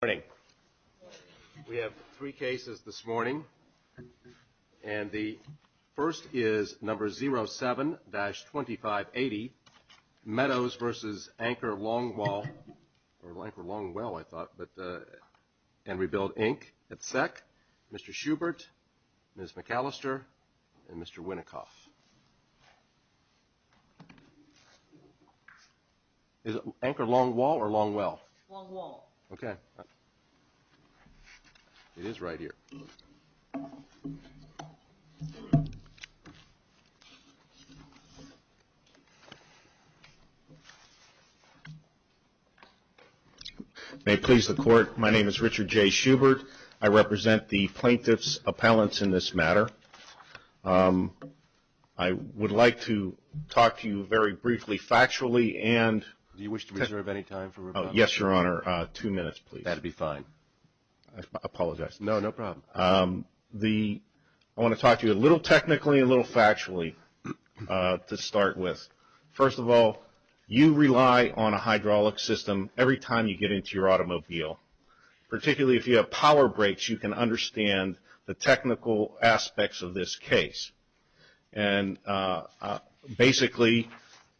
Good morning. We have three cases this morning, and the first is number 07-2580, Meadows v. Anchor Longwall and Rebuild Inc. at SEC. Mr. Schubert, Ms. McAllister, and Mr. Winnikoff. Is it Anchor Longwall or Longwell? Longwall. Okay. It is right here. May it please the Court, my name is Richard J. Schubert. I represent the plaintiff's appellants in this matter. I would like to talk to you very briefly, factually, and... Do you wish to reserve any time for rebuttal? Yes, Your Honor. Two minutes, please. That would be fine. I apologize. No, no problem. I want to talk to you a little technically and a little factually to start with. First of all, you rely on a hydraulic system every time you get into your automobile. Particularly if you have power breaks, you can understand the technical aspects of this case. Basically,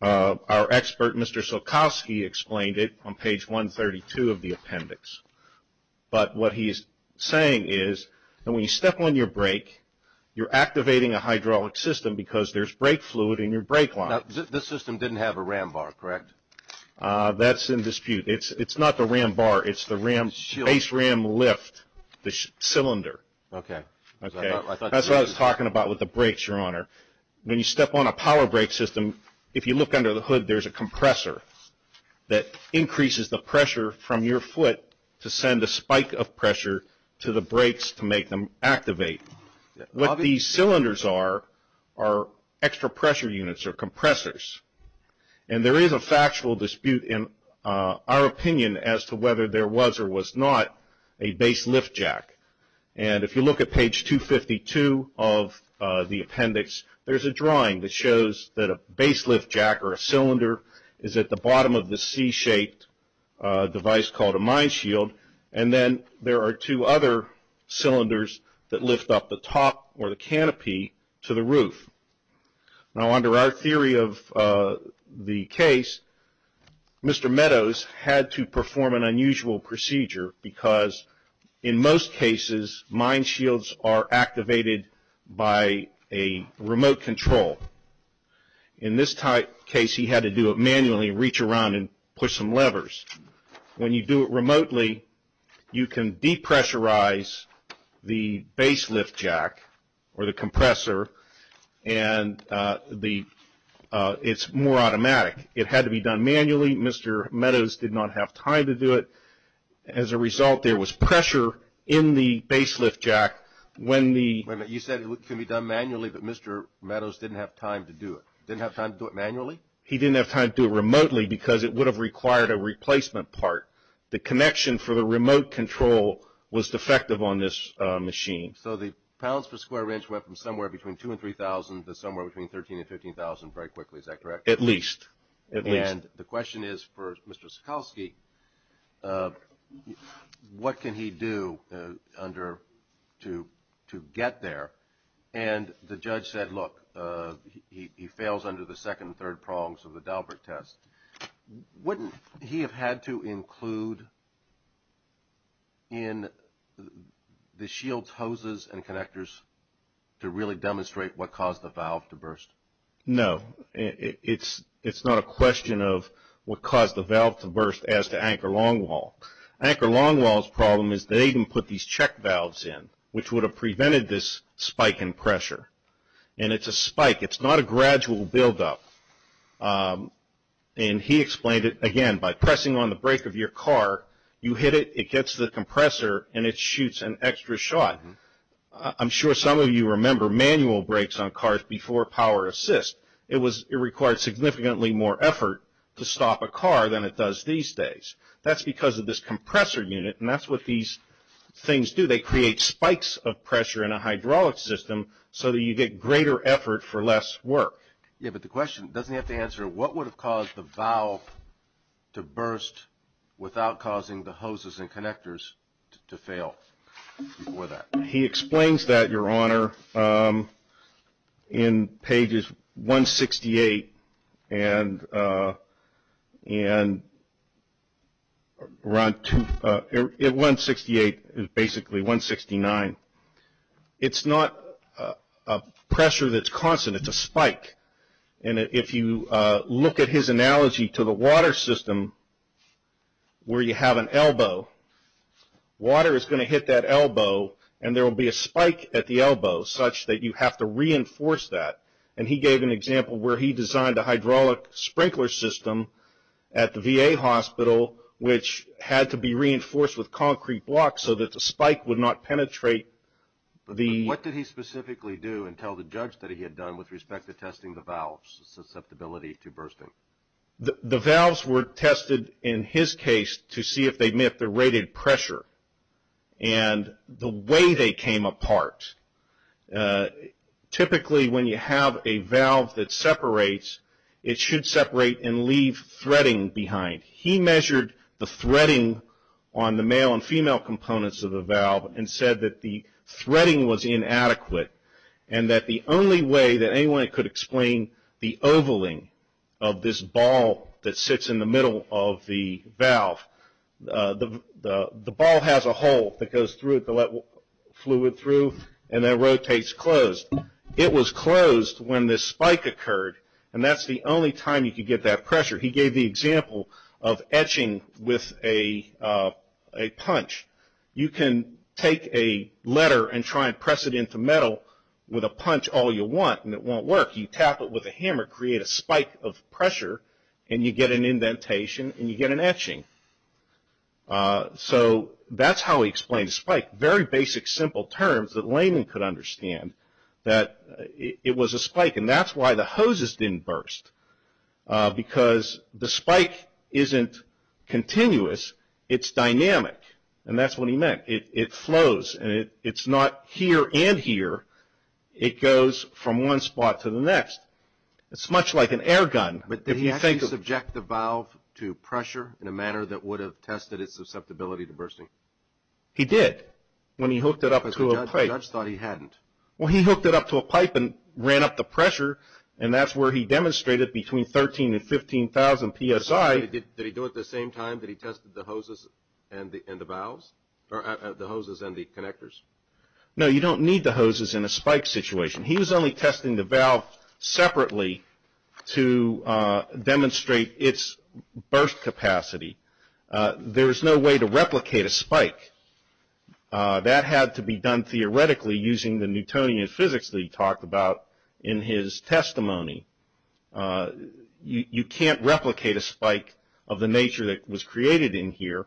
our expert, Mr. Sulkowski, explained it on page 132 of the appendix. But what he is saying is that when you step on your brake, you are activating a hydraulic system because there is brake fluid in your brake line. This system did not have a ram bar, correct? That is in dispute. It is not the ram bar. It is the base ram lift, the cylinder. Okay. That is what I was talking about with the brakes, Your Honor. When you step on a power brake system, if you look under the hood, there is a compressor that increases the pressure from your foot to send a spike of pressure to the brakes to make them activate. What these cylinders are, are extra pressure units or compressors. And there is a factual dispute in our opinion as to whether there was or was not a base lift jack. And if you look at page 252 of the appendix, there is a drawing that shows that a base lift jack or a cylinder is at the bottom of the C-shaped device called a mine shield. And then there are two other cylinders that lift up the top or the canopy to the roof. Now, under our theory of the case, Mr. Meadows had to perform an unusual procedure because in most cases, mine shields are activated by a remote control. In this type case, he had to do it manually, reach around and push some levers. When you do it remotely, you can depressurize the base lift jack or the compressor and it is more automatic. It had to be done manually. Mr. Meadows did not have time to do it. As a result, there was pressure in the base lift jack when the... Wait a minute, you said it can be done manually, but Mr. Meadows didn't have time to do it. Didn't have time to do it manually? He didn't have time to do it remotely because it would have required a replacement part. The connection for the remote control was defective on this machine. So the pounds per square inch went from somewhere between two and three thousand to somewhere between thirteen and fifteen thousand very quickly, is that correct? At least. And the question is for Mr. Sekulski, what can he do to get there? And the judge said, look, he fails under the second and third prongs of the Daubert test. Wouldn't he have had to include in the shield's hoses and connectors to really demonstrate what caused the valve to burst? No, it's not a question of what caused the valve to burst as to Anchor-Longwall. Anchor-Longwall's problem is they didn't put these check valves in, which would have prevented this spike in pressure. And it's a spike, it's not a gradual buildup. And he explained it, again, by pressing on the brake of your car, you hit it, it gets to the compressor and it shoots an extra shot. I'm sure some of you remember manual brakes on cars before power assist. It required significantly more effort to stop a car than it does these days. That's because of this compressor unit and that's what these things do. They create spikes of pressure in a hydraulic system so that you get greater effort for less work. Yeah, but the question, doesn't he have to answer, what would have caused the valve to burst without causing the hoses and connectors to fail before that? He explains that, Your Honor, in pages 168 and 169. It's not a pressure that's constant, it's a spike. And if you look at his analogy to the water system where you have an elbow, water is going to hit that elbow and there will be a spike at the elbow such that you have to reinforce that. And he gave an example where he designed a hydraulic sprinkler system at the VA hospital which had to be reinforced with concrete blocks so that the spike would not penetrate the... What did he specifically do and tell the judge that he had done with respect to testing the valves' susceptibility to bursting? The valves were tested, in his case, to see if they met the rated pressure and the way they came apart. Typically, when you have a valve that separates, it should separate and leave threading behind. He measured the threading on the male and female components of the valve and said that the threading was inadequate and that the only way that anyone could explain the ovaling of this ball that sits in the middle of the valve the ball has a hole that goes through it to let fluid through and then rotates closed. It was closed when this spike occurred and that's the only time you could get that pressure. He gave the example of etching with a punch. You can take a letter and try and press it into metal with a punch all you want and it won't work. You tap it with a hammer, create a spike of pressure and you get an indentation and you get an etching. That's how he explained a spike. Very basic, simple terms that Layman could understand. That it was a spike and that's why the hoses didn't burst because the spike isn't continuous. It's dynamic and that's what he meant. It flows and it's not here and here. It goes from one spot to the next. It's much like an air gun. But did he actually subject the valve to pressure in a manner that would have tested its susceptibility to bursting? He did when he hooked it up to a pipe. The judge thought he hadn't. Well, he hooked it up to a pipe and ran up the pressure and that's where he demonstrated between 13,000 and 15,000 psi. Did he do it the same time that he tested the hoses and the valves? Or the hoses and the connectors? No, you don't need the hoses in a spike situation. He was only testing the valve separately to demonstrate its burst capacity. There is no way to replicate a spike. That had to be done theoretically using the Newtonian physics that he talked about in his testimony. You can't replicate a spike of the nature that was created in here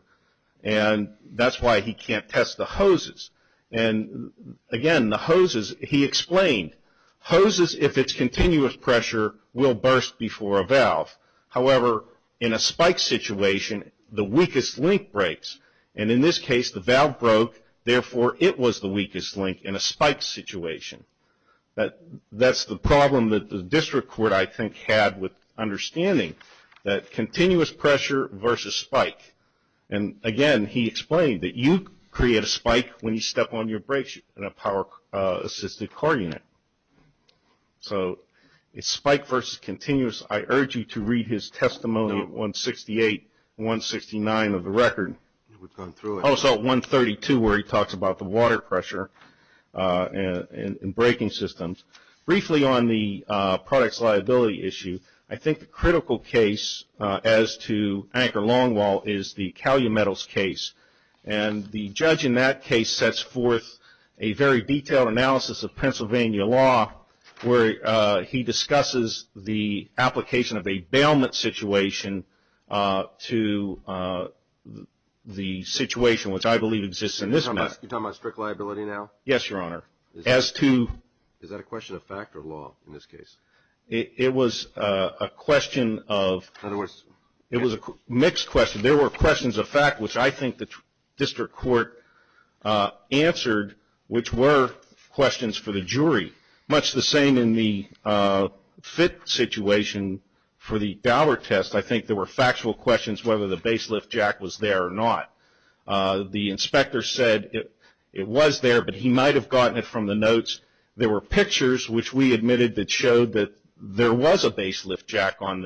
and that's why he can't test the hoses. And again, the hoses, he explained, hoses, if it's continuous pressure, will burst before a valve. However, in a spike situation, the weakest link breaks. And in this case, the valve broke. Therefore, it was the weakest link in a spike situation. But that's the problem that the district court, I think, had with understanding that continuous pressure versus spike. And again, he explained that you create a spike when you step on your brakes in a power-assisted car unit. So, it's spike versus continuous. I urge you to read his testimony at 168, 169 of the record. Also at 132 where he talks about the water pressure and braking systems. Briefly on the product's liability issue, I think the critical case as to Anker Longwall is the Calumetals case. And the judge in that case sets forth a very detailed analysis of Pennsylvania law where he discusses the application of a bailment situation to the situation which I believe exists in this matter. You're talking about strict liability now? Yes, Your Honor. As to... Is that a question of fact or law in this case? It was a question of... It was a mixed question. There were questions of fact, which I think the district court answered, which were questions for the jury. Much the same in the FIT situation for the Dower test, I think there were factual questions whether the baselift jack was there or not. The inspector said it was there, but he might have gotten it from the notes. There were pictures which we admitted that showed that there was a baselift jack on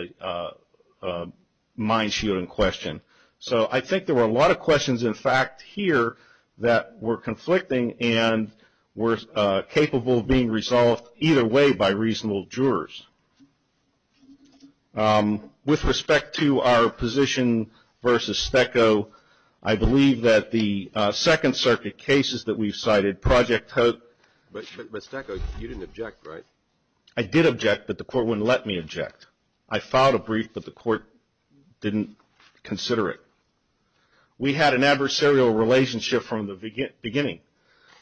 the mine shield in question. So I think there were a lot of questions in fact here that were conflicting and were capable of being resolved either way by reasonable jurors. With respect to our position versus Steko, I believe that the Second Circuit cases that we've cited, Project Hope... But Steko, you didn't object, right? I did object, but the court wouldn't let me object. I filed a brief, but the court didn't consider it. We had an adversarial relationship from the beginning.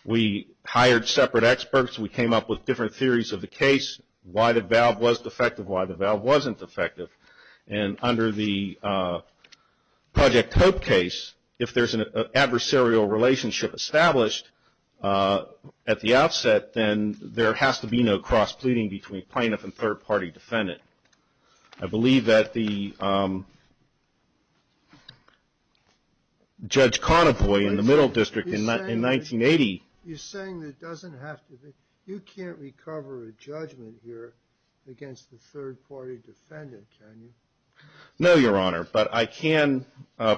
We hired separate experts. We came up with different theories of the case, why the valve was defective, why the valve wasn't defective. And under the Project Hope case, if there's an adversarial relationship established, at the outset, then there has to be no cross-pleading between plaintiff and third-party defendant. I believe that the Judge Conavoy in the Middle District in 1980... You're saying that doesn't have to be... You can't recover a judgment here against the third-party defendant, can you? No, Your Honor, but I can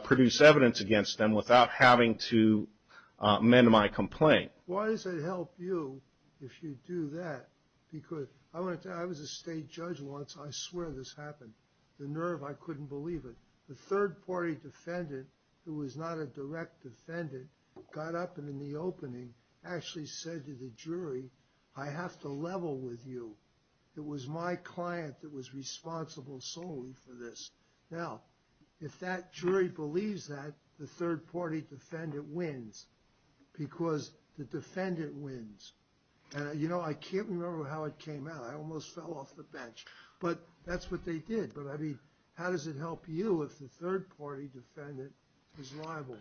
produce evidence against them without having to amend my complaint. Why does it help you if you do that? Because I want to tell you, I was a state judge once. I swear this happened. The nerve, I couldn't believe it. The third-party defendant, who was not a direct defendant, got up and in the opening, actually said to the jury, I have to level with you. It was my client that was responsible solely for this. Now, if that jury believes that, the third-party defendant wins, because the defendant wins. And, you know, I can't remember how it came out. I almost fell off the bench. But that's what they did. But, I mean, how does it help you if the third-party defendant is liable?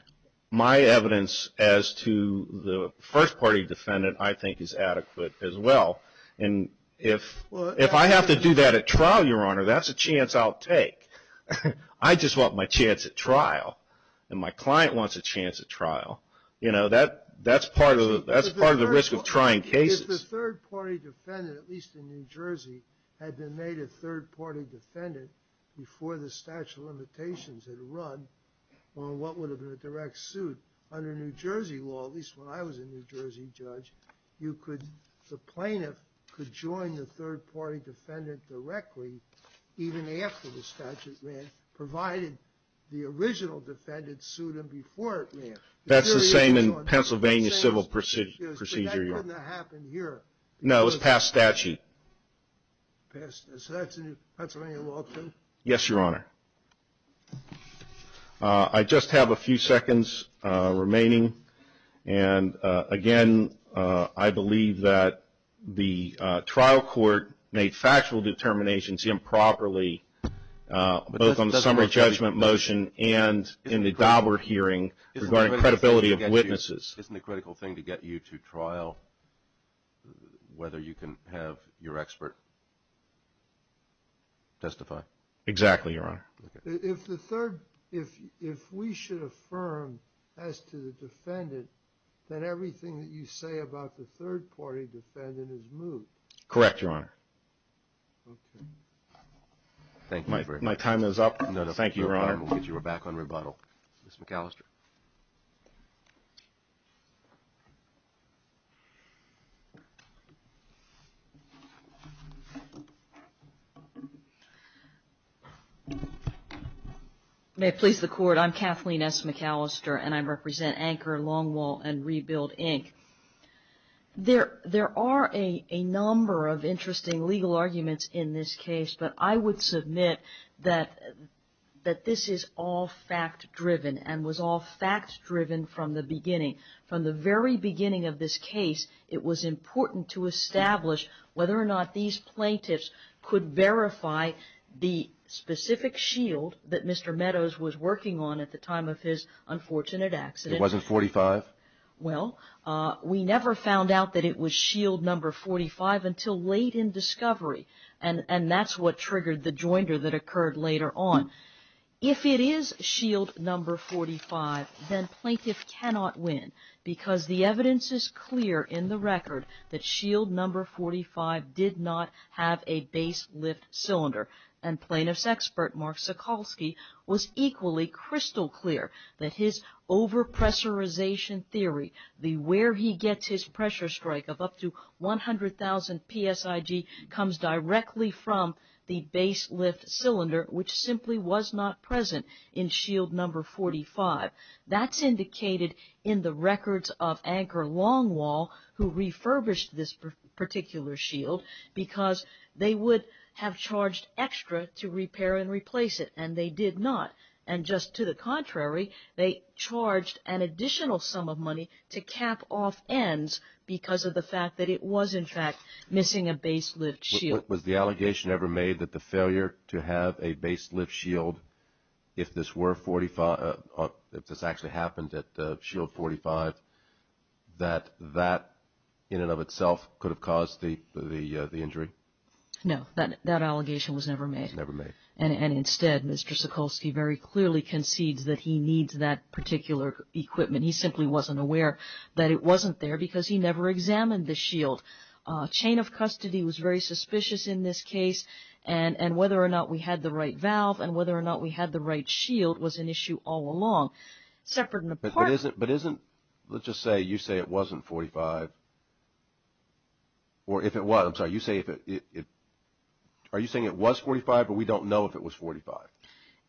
My evidence as to the first-party defendant, I think, is adequate as well. And if I have to do that at trial, Your Honor, that's a chance I'll take. I just want my chance at trial. And my client wants a chance at trial. You know, that's part of the risk of trying cases. If the third-party defendant, at least in New Jersey, had been made a third-party defendant before the statute of limitations had run, on what would have been a direct suit under New Jersey law, at least when I was a New Jersey judge, the plaintiff could join the third-party defendant directly, even after the statute ran, provided the original defendant sued him before it ran. That's the same in Pennsylvania civil procedure. But that doesn't happen here. No, it was past statute. So that's a new Pennsylvania law, too? Yes, Your Honor. I just have a few seconds remaining. And, again, I believe that the trial court made factual determinations improperly, both on the summary judgment motion and in the Dauber hearing regarding credibility of witnesses. Isn't the critical thing to get you to trial whether you can have your expert testify? Exactly, Your Honor. If we should affirm as to the defendant that everything that you say about the third-party defendant is moot. Correct, Your Honor. Okay. Thank you very much. My time is up. Thank you, Your Honor. We're back on rebuttal. Ms. McAllister. May it please the Court, I'm Kathleen S. McAllister, and I represent Anchor, Longwall, and Rebuild, Inc. There are a number of interesting legal arguments in this case, but I would submit that this is all fact-driven, and was all fact-driven from the beginning. From the very beginning of this case, it was important to establish whether or not these plaintiffs could verify the specific shield that Mr. Meadows was working on at the time of his unfortunate accident. It wasn't 45? Well, we never found out that it was shield number 45 until late in discovery, and that's what triggered the joinder that occurred later on. If it is shield number 45, then plaintiff cannot win, because the evidence is clear in the record that shield number 45 did not have a base lift cylinder, and plaintiff's expert, Mark Sokolsky, was equally crystal clear that his overpressurization theory, the where he gets his pressure strike of up to 100,000 PSIG, comes directly from the base lift cylinder, which simply was not present in shield number 45. That's indicated in the records of Anchor Longwall, who refurbished this particular shield, because they would have charged extra to repair and replace it, and they did not. And just to the contrary, they charged an additional sum of money to cap off ends, because of the fact that it was, in fact, missing a base lift shield. Was the allegation ever made that the failure to have a base lift shield, if this were 45, if this actually happened at shield 45, that that in and of itself could have caused the injury? No, that allegation was never made. Never made. And instead, Mr. Sokolsky very clearly concedes that he needs that particular equipment. He simply wasn't aware that it wasn't there, because he never examined the shield. Chain of custody was very suspicious in this case, and whether or not we had the right valve, and whether or not we had the right shield, was an issue all along. Separate and apart. But isn't, let's just say, you say it wasn't 45, or if it was, I'm sorry, you say if it, are you saying it was 45, but we don't know if it was 45?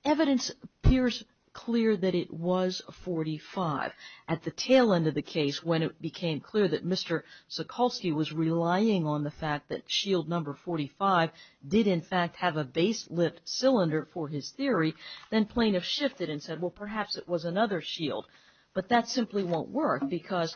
Evidence appears clear that it was 45. At the tail end of the case, when it became clear that Mr. Sokolsky was relying on the fact that shield number 45 did in fact have a base lift cylinder for his theory, then plaintiff shifted and said, well, perhaps it was another shield. But that simply won't work, because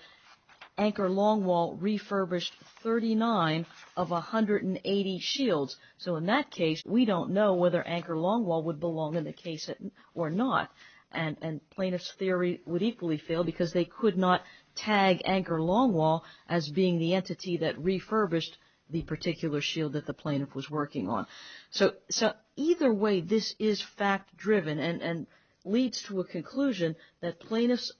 Anchor Longwall refurbished 39 of 180 shields. So in that case, we don't know whether Anchor Longwall would belong in the case or not. And plaintiff's theory would equally fail, because they could not tag Anchor Longwall as being the entity that refurbished the particular shield that the plaintiff was working on. So either way, this is fact-driven, and leads to a conclusion that plaintiff's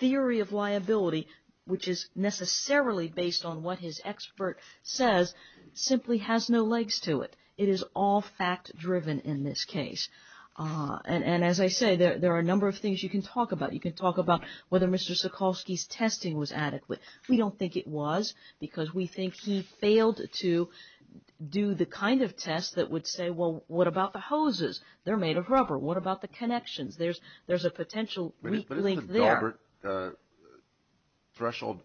theory of liability, which is necessarily based on what his expert says, simply has no legs to it. It is all fact-driven in this case. And as I say, there are a number of things you can talk about. You can talk about whether Mr. Sokolsky's testing was adequate. We don't think it was, because we think he failed to do the kind of test that would say, well, what about the hoses? They're made of rubber. What about the connections? There's a potential weak link there. But isn't the Gilbert threshold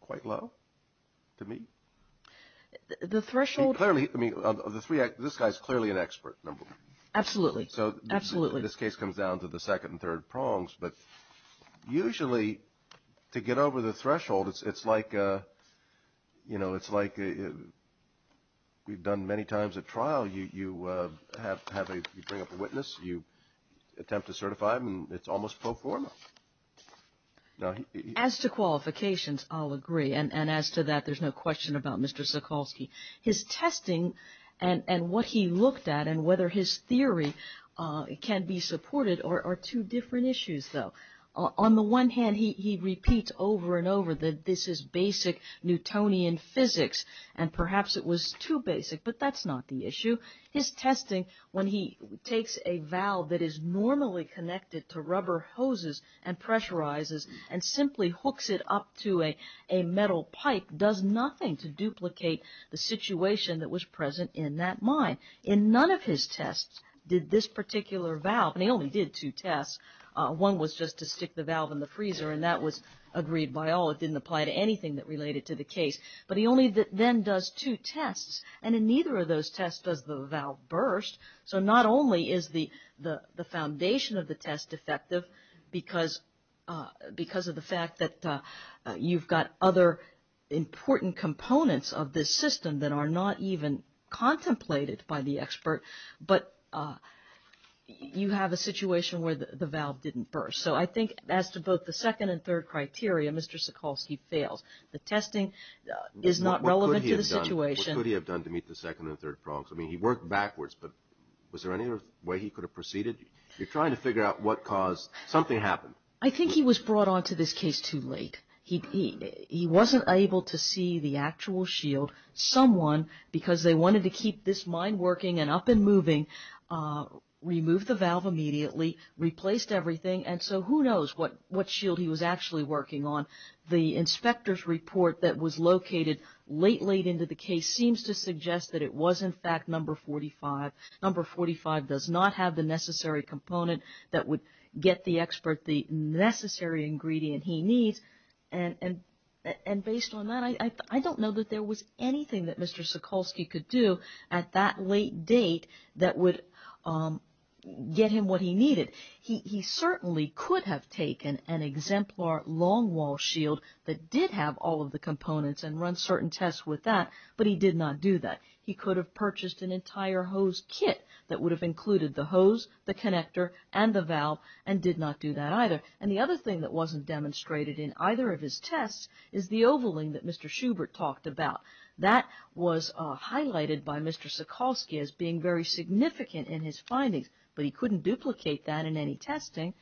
quite low to me? The threshold... Clearly, I mean, this guy's clearly an expert, number one. Absolutely. So this case comes down to the second and third prongs. But usually, to get over the threshold, it's like, you know, it's like we've done many times at trial. You bring up a witness. You attempt to certify them. It's almost pro forma. As to qualifications, I'll agree. And as to that, there's no question about Mr. Sokolsky. His testing and what he looked at and whether his theory can be supported are two different issues, though. On the one hand, he repeats over and over that this is basic Newtonian physics and perhaps it was too basic. But that's not the issue. His testing, when he takes a valve that is normally connected to rubber hoses and pressurizes and simply hooks it up to a metal pipe, does nothing to duplicate the situation that was present in that mine. And none of his tests did this particular valve. And he only did two tests. One was just to stick the valve in the freezer. And that was agreed by all. It didn't apply to anything that related to the case. But he only then does two tests. And in neither of those tests does the valve burst. So not only is the foundation of the test effective because of the fact that you've got other important components of this system that are not even contemplated by the expert, but you have a situation where the valve didn't burst. So I think as to both the second and third criteria, Mr. Sikorsky fails. The testing is not relevant to the situation. What could he have done to meet the second and third problems? I mean, he worked backwards, but was there any other way he could have proceeded? You're trying to figure out what caused something happened. I think he was brought onto this case too late. He wasn't able to see the actual shield someone, because they wanted to keep this mine working and up and moving, removed the valve immediately, replaced everything. And so who knows what shield he was actually working on. The inspector's report that was located late, late into the case seems to suggest that it was in fact number 45. Number 45 does not have the necessary component that would get the expert the necessary ingredient he needs. And based on that, I don't know that there was anything that Mr. Sikorsky could do at that late date that would get him what he needed. He certainly could have taken an exemplar long wall shield that did have all of the components and run certain tests with that, but he did not do that. He could have purchased an entire hose kit that would have included the hose, the connector and the valve, and did not do that either. And the other thing that wasn't demonstrated in either of his tests is the ovaling that Mr. Schubert talked about. That was highlighted by Mr. Sikorsky as being very significant in his findings, but he couldn't duplicate that in any testing.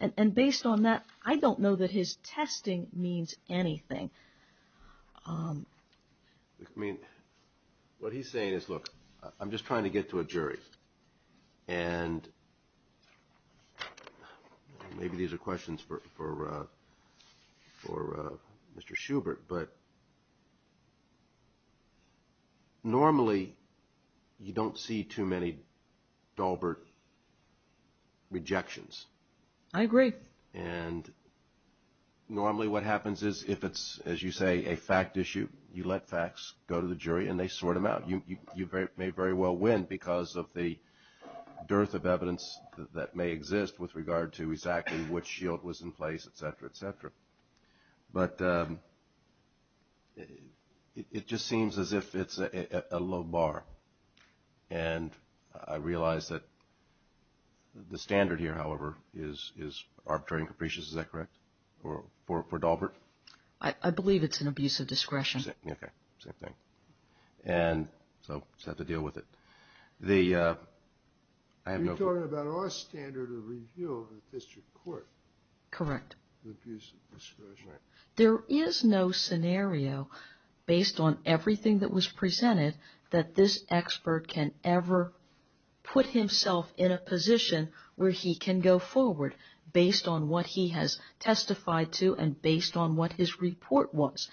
And based on that, I don't know that his testing means anything. I mean, what he's saying is, look, I'm just trying to get to a jury. And maybe these are questions for Mr. Schubert, but normally you don't see too many Dalbert rejections. I agree. And normally what happens is if it's, as you say, a fact issue, you let facts go to the jury and they sort them out. You may very well win because of the dearth of evidence that may exist with regard to exactly which shield was in place, et cetera, et cetera. But it just seems as if it's a low bar. And I realize that the standard here, however, is arbitrary and capricious. Is that correct for Dalbert? I believe it's an abuse of discretion. Okay, same thing. And so you have to deal with it. You're talking about our standard of review of the district court. Correct. There is no scenario, based on everything that was presented, that this expert can ever put himself in a position where he can go forward based on what he has testified to and based on what his report was.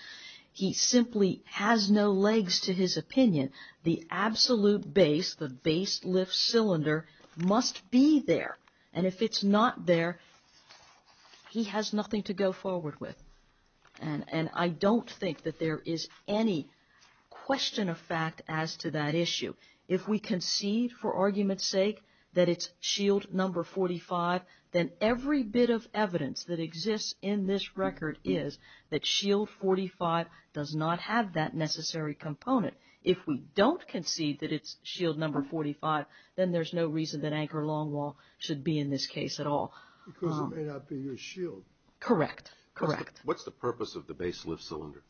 He simply has no legs to his opinion. The absolute base, the base lift cylinder, must be there. And if it's not there, he has nothing to go forward with. And I don't think that there is any question of fact as to that issue. If we concede for argument's sake that it's shield number 45, then every bit of evidence that exists in this record is that shield 45 does not have that necessary component. If we don't concede that it's shield number 45, then there's no reason that anchor longwall should be in this case at all. Because it may not be your shield. Correct, correct. What's the purpose of the base lift cylinder?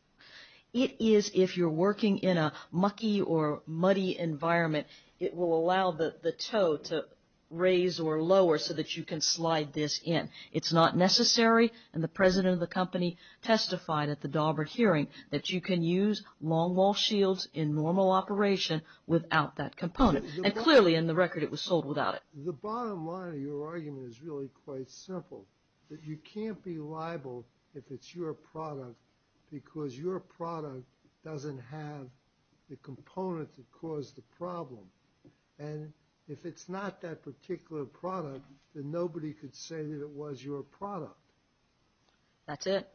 It is if you're working in a mucky or muddy environment, it will allow the toe to raise or lower so that you can slide this in. It's not necessary, and the president of the company testified at the Dalbert hearing, that you can use longwall shields in normal operation without that component. And clearly in the record it was sold without it. The bottom line of your argument is really quite simple. That you can't be liable if it's your product because your product doesn't have the component that caused the problem. And if it's not that particular product, then nobody could say that it was your product. That's it.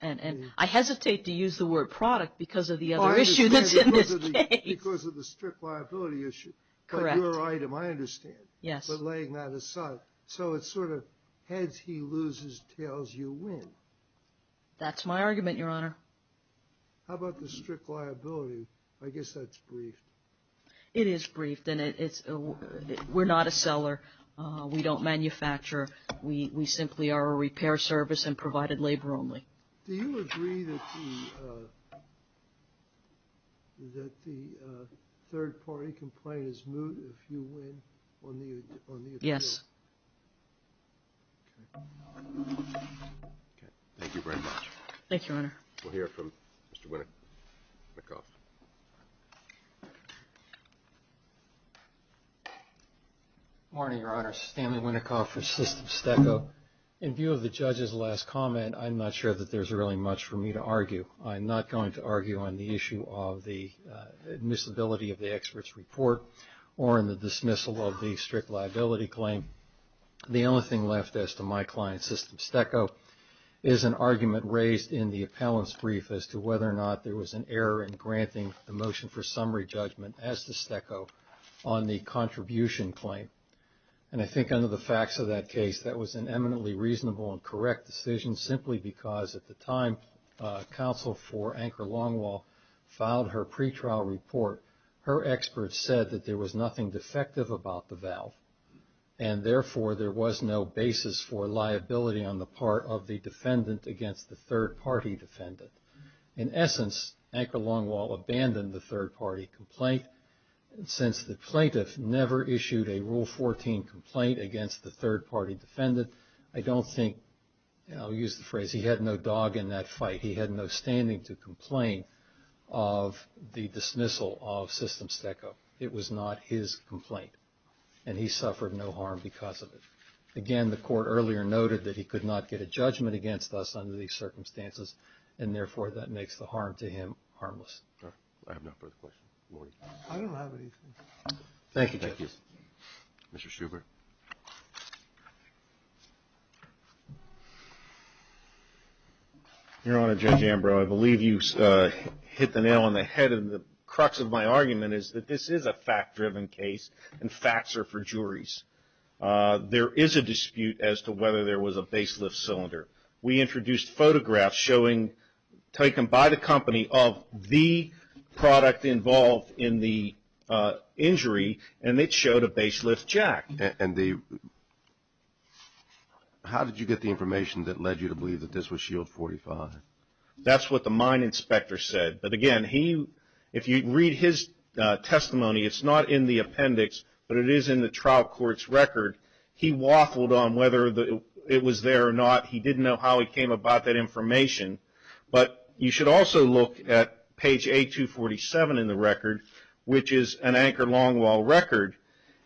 And I hesitate to use the word product because of the other issue that's in this case. Because of the strict liability issue. Correct. Your item, I understand. Yes. But laying that aside. So it's sort of heads he loses, tails you win. That's my argument, Your Honor. How about the strict liability? I guess that's briefed. It is briefed and we're not a seller. We don't manufacture. We simply are a repair service and provided labor only. Do you agree that the third party complainant is moot if you win on the appeal? Yes. Okay. Thank you very much. Thank you, Your Honor. We'll hear from Mr. Winnikoff. Good morning, Your Honor. Stanley Winnikoff for Systems Deco. In view of the judge's last comment, I'm not sure that there's really much for me to argue. I'm not going to argue on the issue of the admissibility of the expert's report or in the dismissal of the strict liability claim. The only thing left as to my client, Systems Deco, is an argument raised in the appellant's brief as to whether or not there was an error in granting the motion for summary judgment as to Steco on the contribution claim. And I think under the facts of that case, that was an eminently reasonable and correct decision simply because at the time, counsel for Anchor Longwall filed her pretrial report. Her expert said that there was nothing defective about the valve and therefore, there was no basis for liability on the part of the defendant against the third party defendant. In essence, Anchor Longwall abandoned the third party complaint since the plaintiff never issued a Rule 14 complaint against the third party defendant. I don't think, I'll use the phrase, he had no dog in that fight. He had no standing to complain of the dismissal of Systems Deco. It was not his complaint and he suffered no harm because of it. Again, the court earlier noted that he could not get a judgment against us under these circumstances and therefore, that makes the harm to him harmless. All right. I have no further questions. Good morning. I don't have anything. Thank you, Justice. Mr. Schubert. Your Honor, Judge Ambrose, I believe you hit the nail on the head and the crux of my argument is that this is a fact-driven case and facts are for juries. There is a dispute as to whether there was a baselift cylinder. We introduced photographs showing, taken by the company of the product involved in the injury and it showed a baselift jack. How did you get the information that led you to believe that this was Shield 45? That's what the mine inspector said. But again, if you read his testimony, it's not in the appendix but it is in the trial court's record. He waffled on whether it was there or not. He didn't know how he came about that information but you should also look at page A247 in the record which is an Anchor Longwall record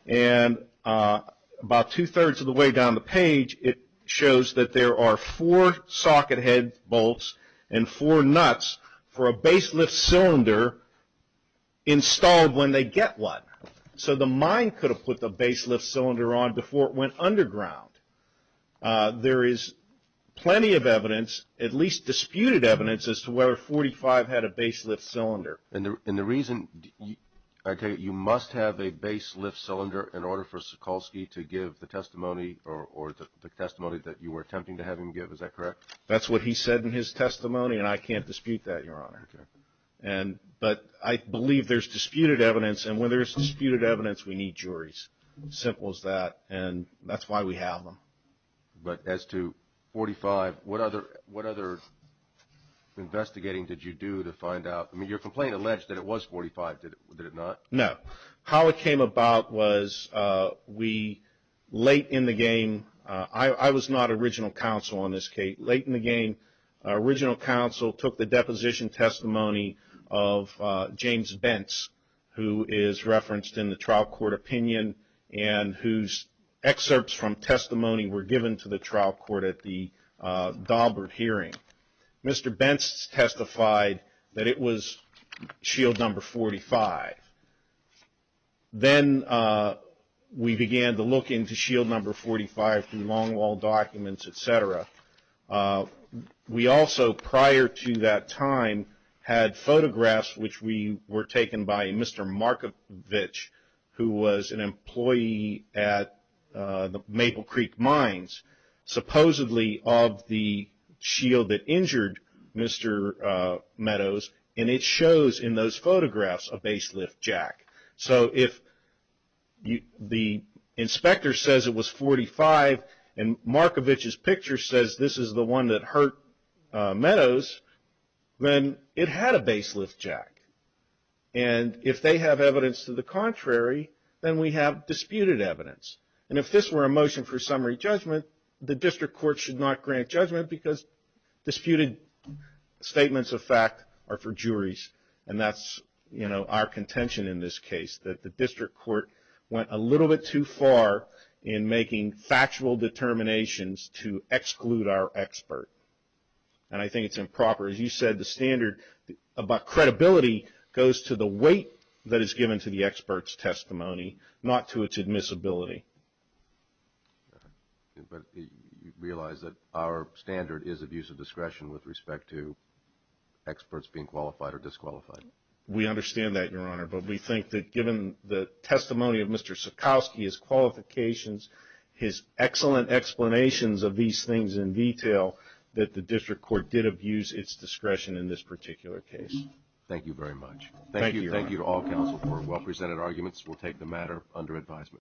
and about two-thirds of the way down the page, it shows that there are four socket head bolts and four nuts for a baselift cylinder installed when they get one. So the mine could have put the baselift cylinder on before it went underground. There is plenty of evidence, at least disputed evidence, as to whether 45 had a baselift cylinder. And the reason, I take it, you must have a baselift cylinder in order for Sikorsky to give the testimony or the testimony that you were attempting to have him give, is that correct? That's what he said in his testimony and I can't dispute that, Your Honor. But I believe there's disputed evidence and when there's disputed evidence, we need juries. Simple as that. And that's why we have them. But as to 45, what other investigating did you do to find out? I mean, your complaint alleged that it was 45, did it not? No. How it came about was we, late in the game, I was not original counsel on this, Kate. Late in the game, original counsel took the deposition testimony of James Bentz, who is referenced in the trial court opinion and whose excerpts from testimony were given to the trial court at the Daubert hearing. Mr. Bentz testified that it was shield number 45. Then we began to look into shield number 45 through long wall documents, et cetera. We also, prior to that time, had photographs which were taken by Mr. Markovich, who was an employee at the Maple Creek Mines, supposedly of the shield that injured Mr. Meadows. And it shows in those photographs a baselift jack. So if the inspector says it was 45 and Markovich's picture says this is the one that hurt Meadows, then it had a baselift jack. And if they have evidence to the contrary, then we have disputed evidence. And if this were a motion for summary judgment, the district court should not grant judgment because disputed statements of fact are for juries. And that's our contention in this case, that the district court went a little bit too far in making factual determinations to exclude our expert. And I think it's improper. As you said, the standard about credibility goes to the weight that is given to the expert's testimony, not to its admissibility. All right. But you realize that our standard is abuse of discretion with respect to experts being qualified or disqualified. We understand that, Your Honor. But we think that given the testimony of Mr. Sikowsky, his qualifications, his excellent explanations of these things in detail, that the district court did abuse its discretion in this particular case. Thank you very much. Thank you. Thank you to all counsel for well-presented arguments. We'll take the matter under advisement.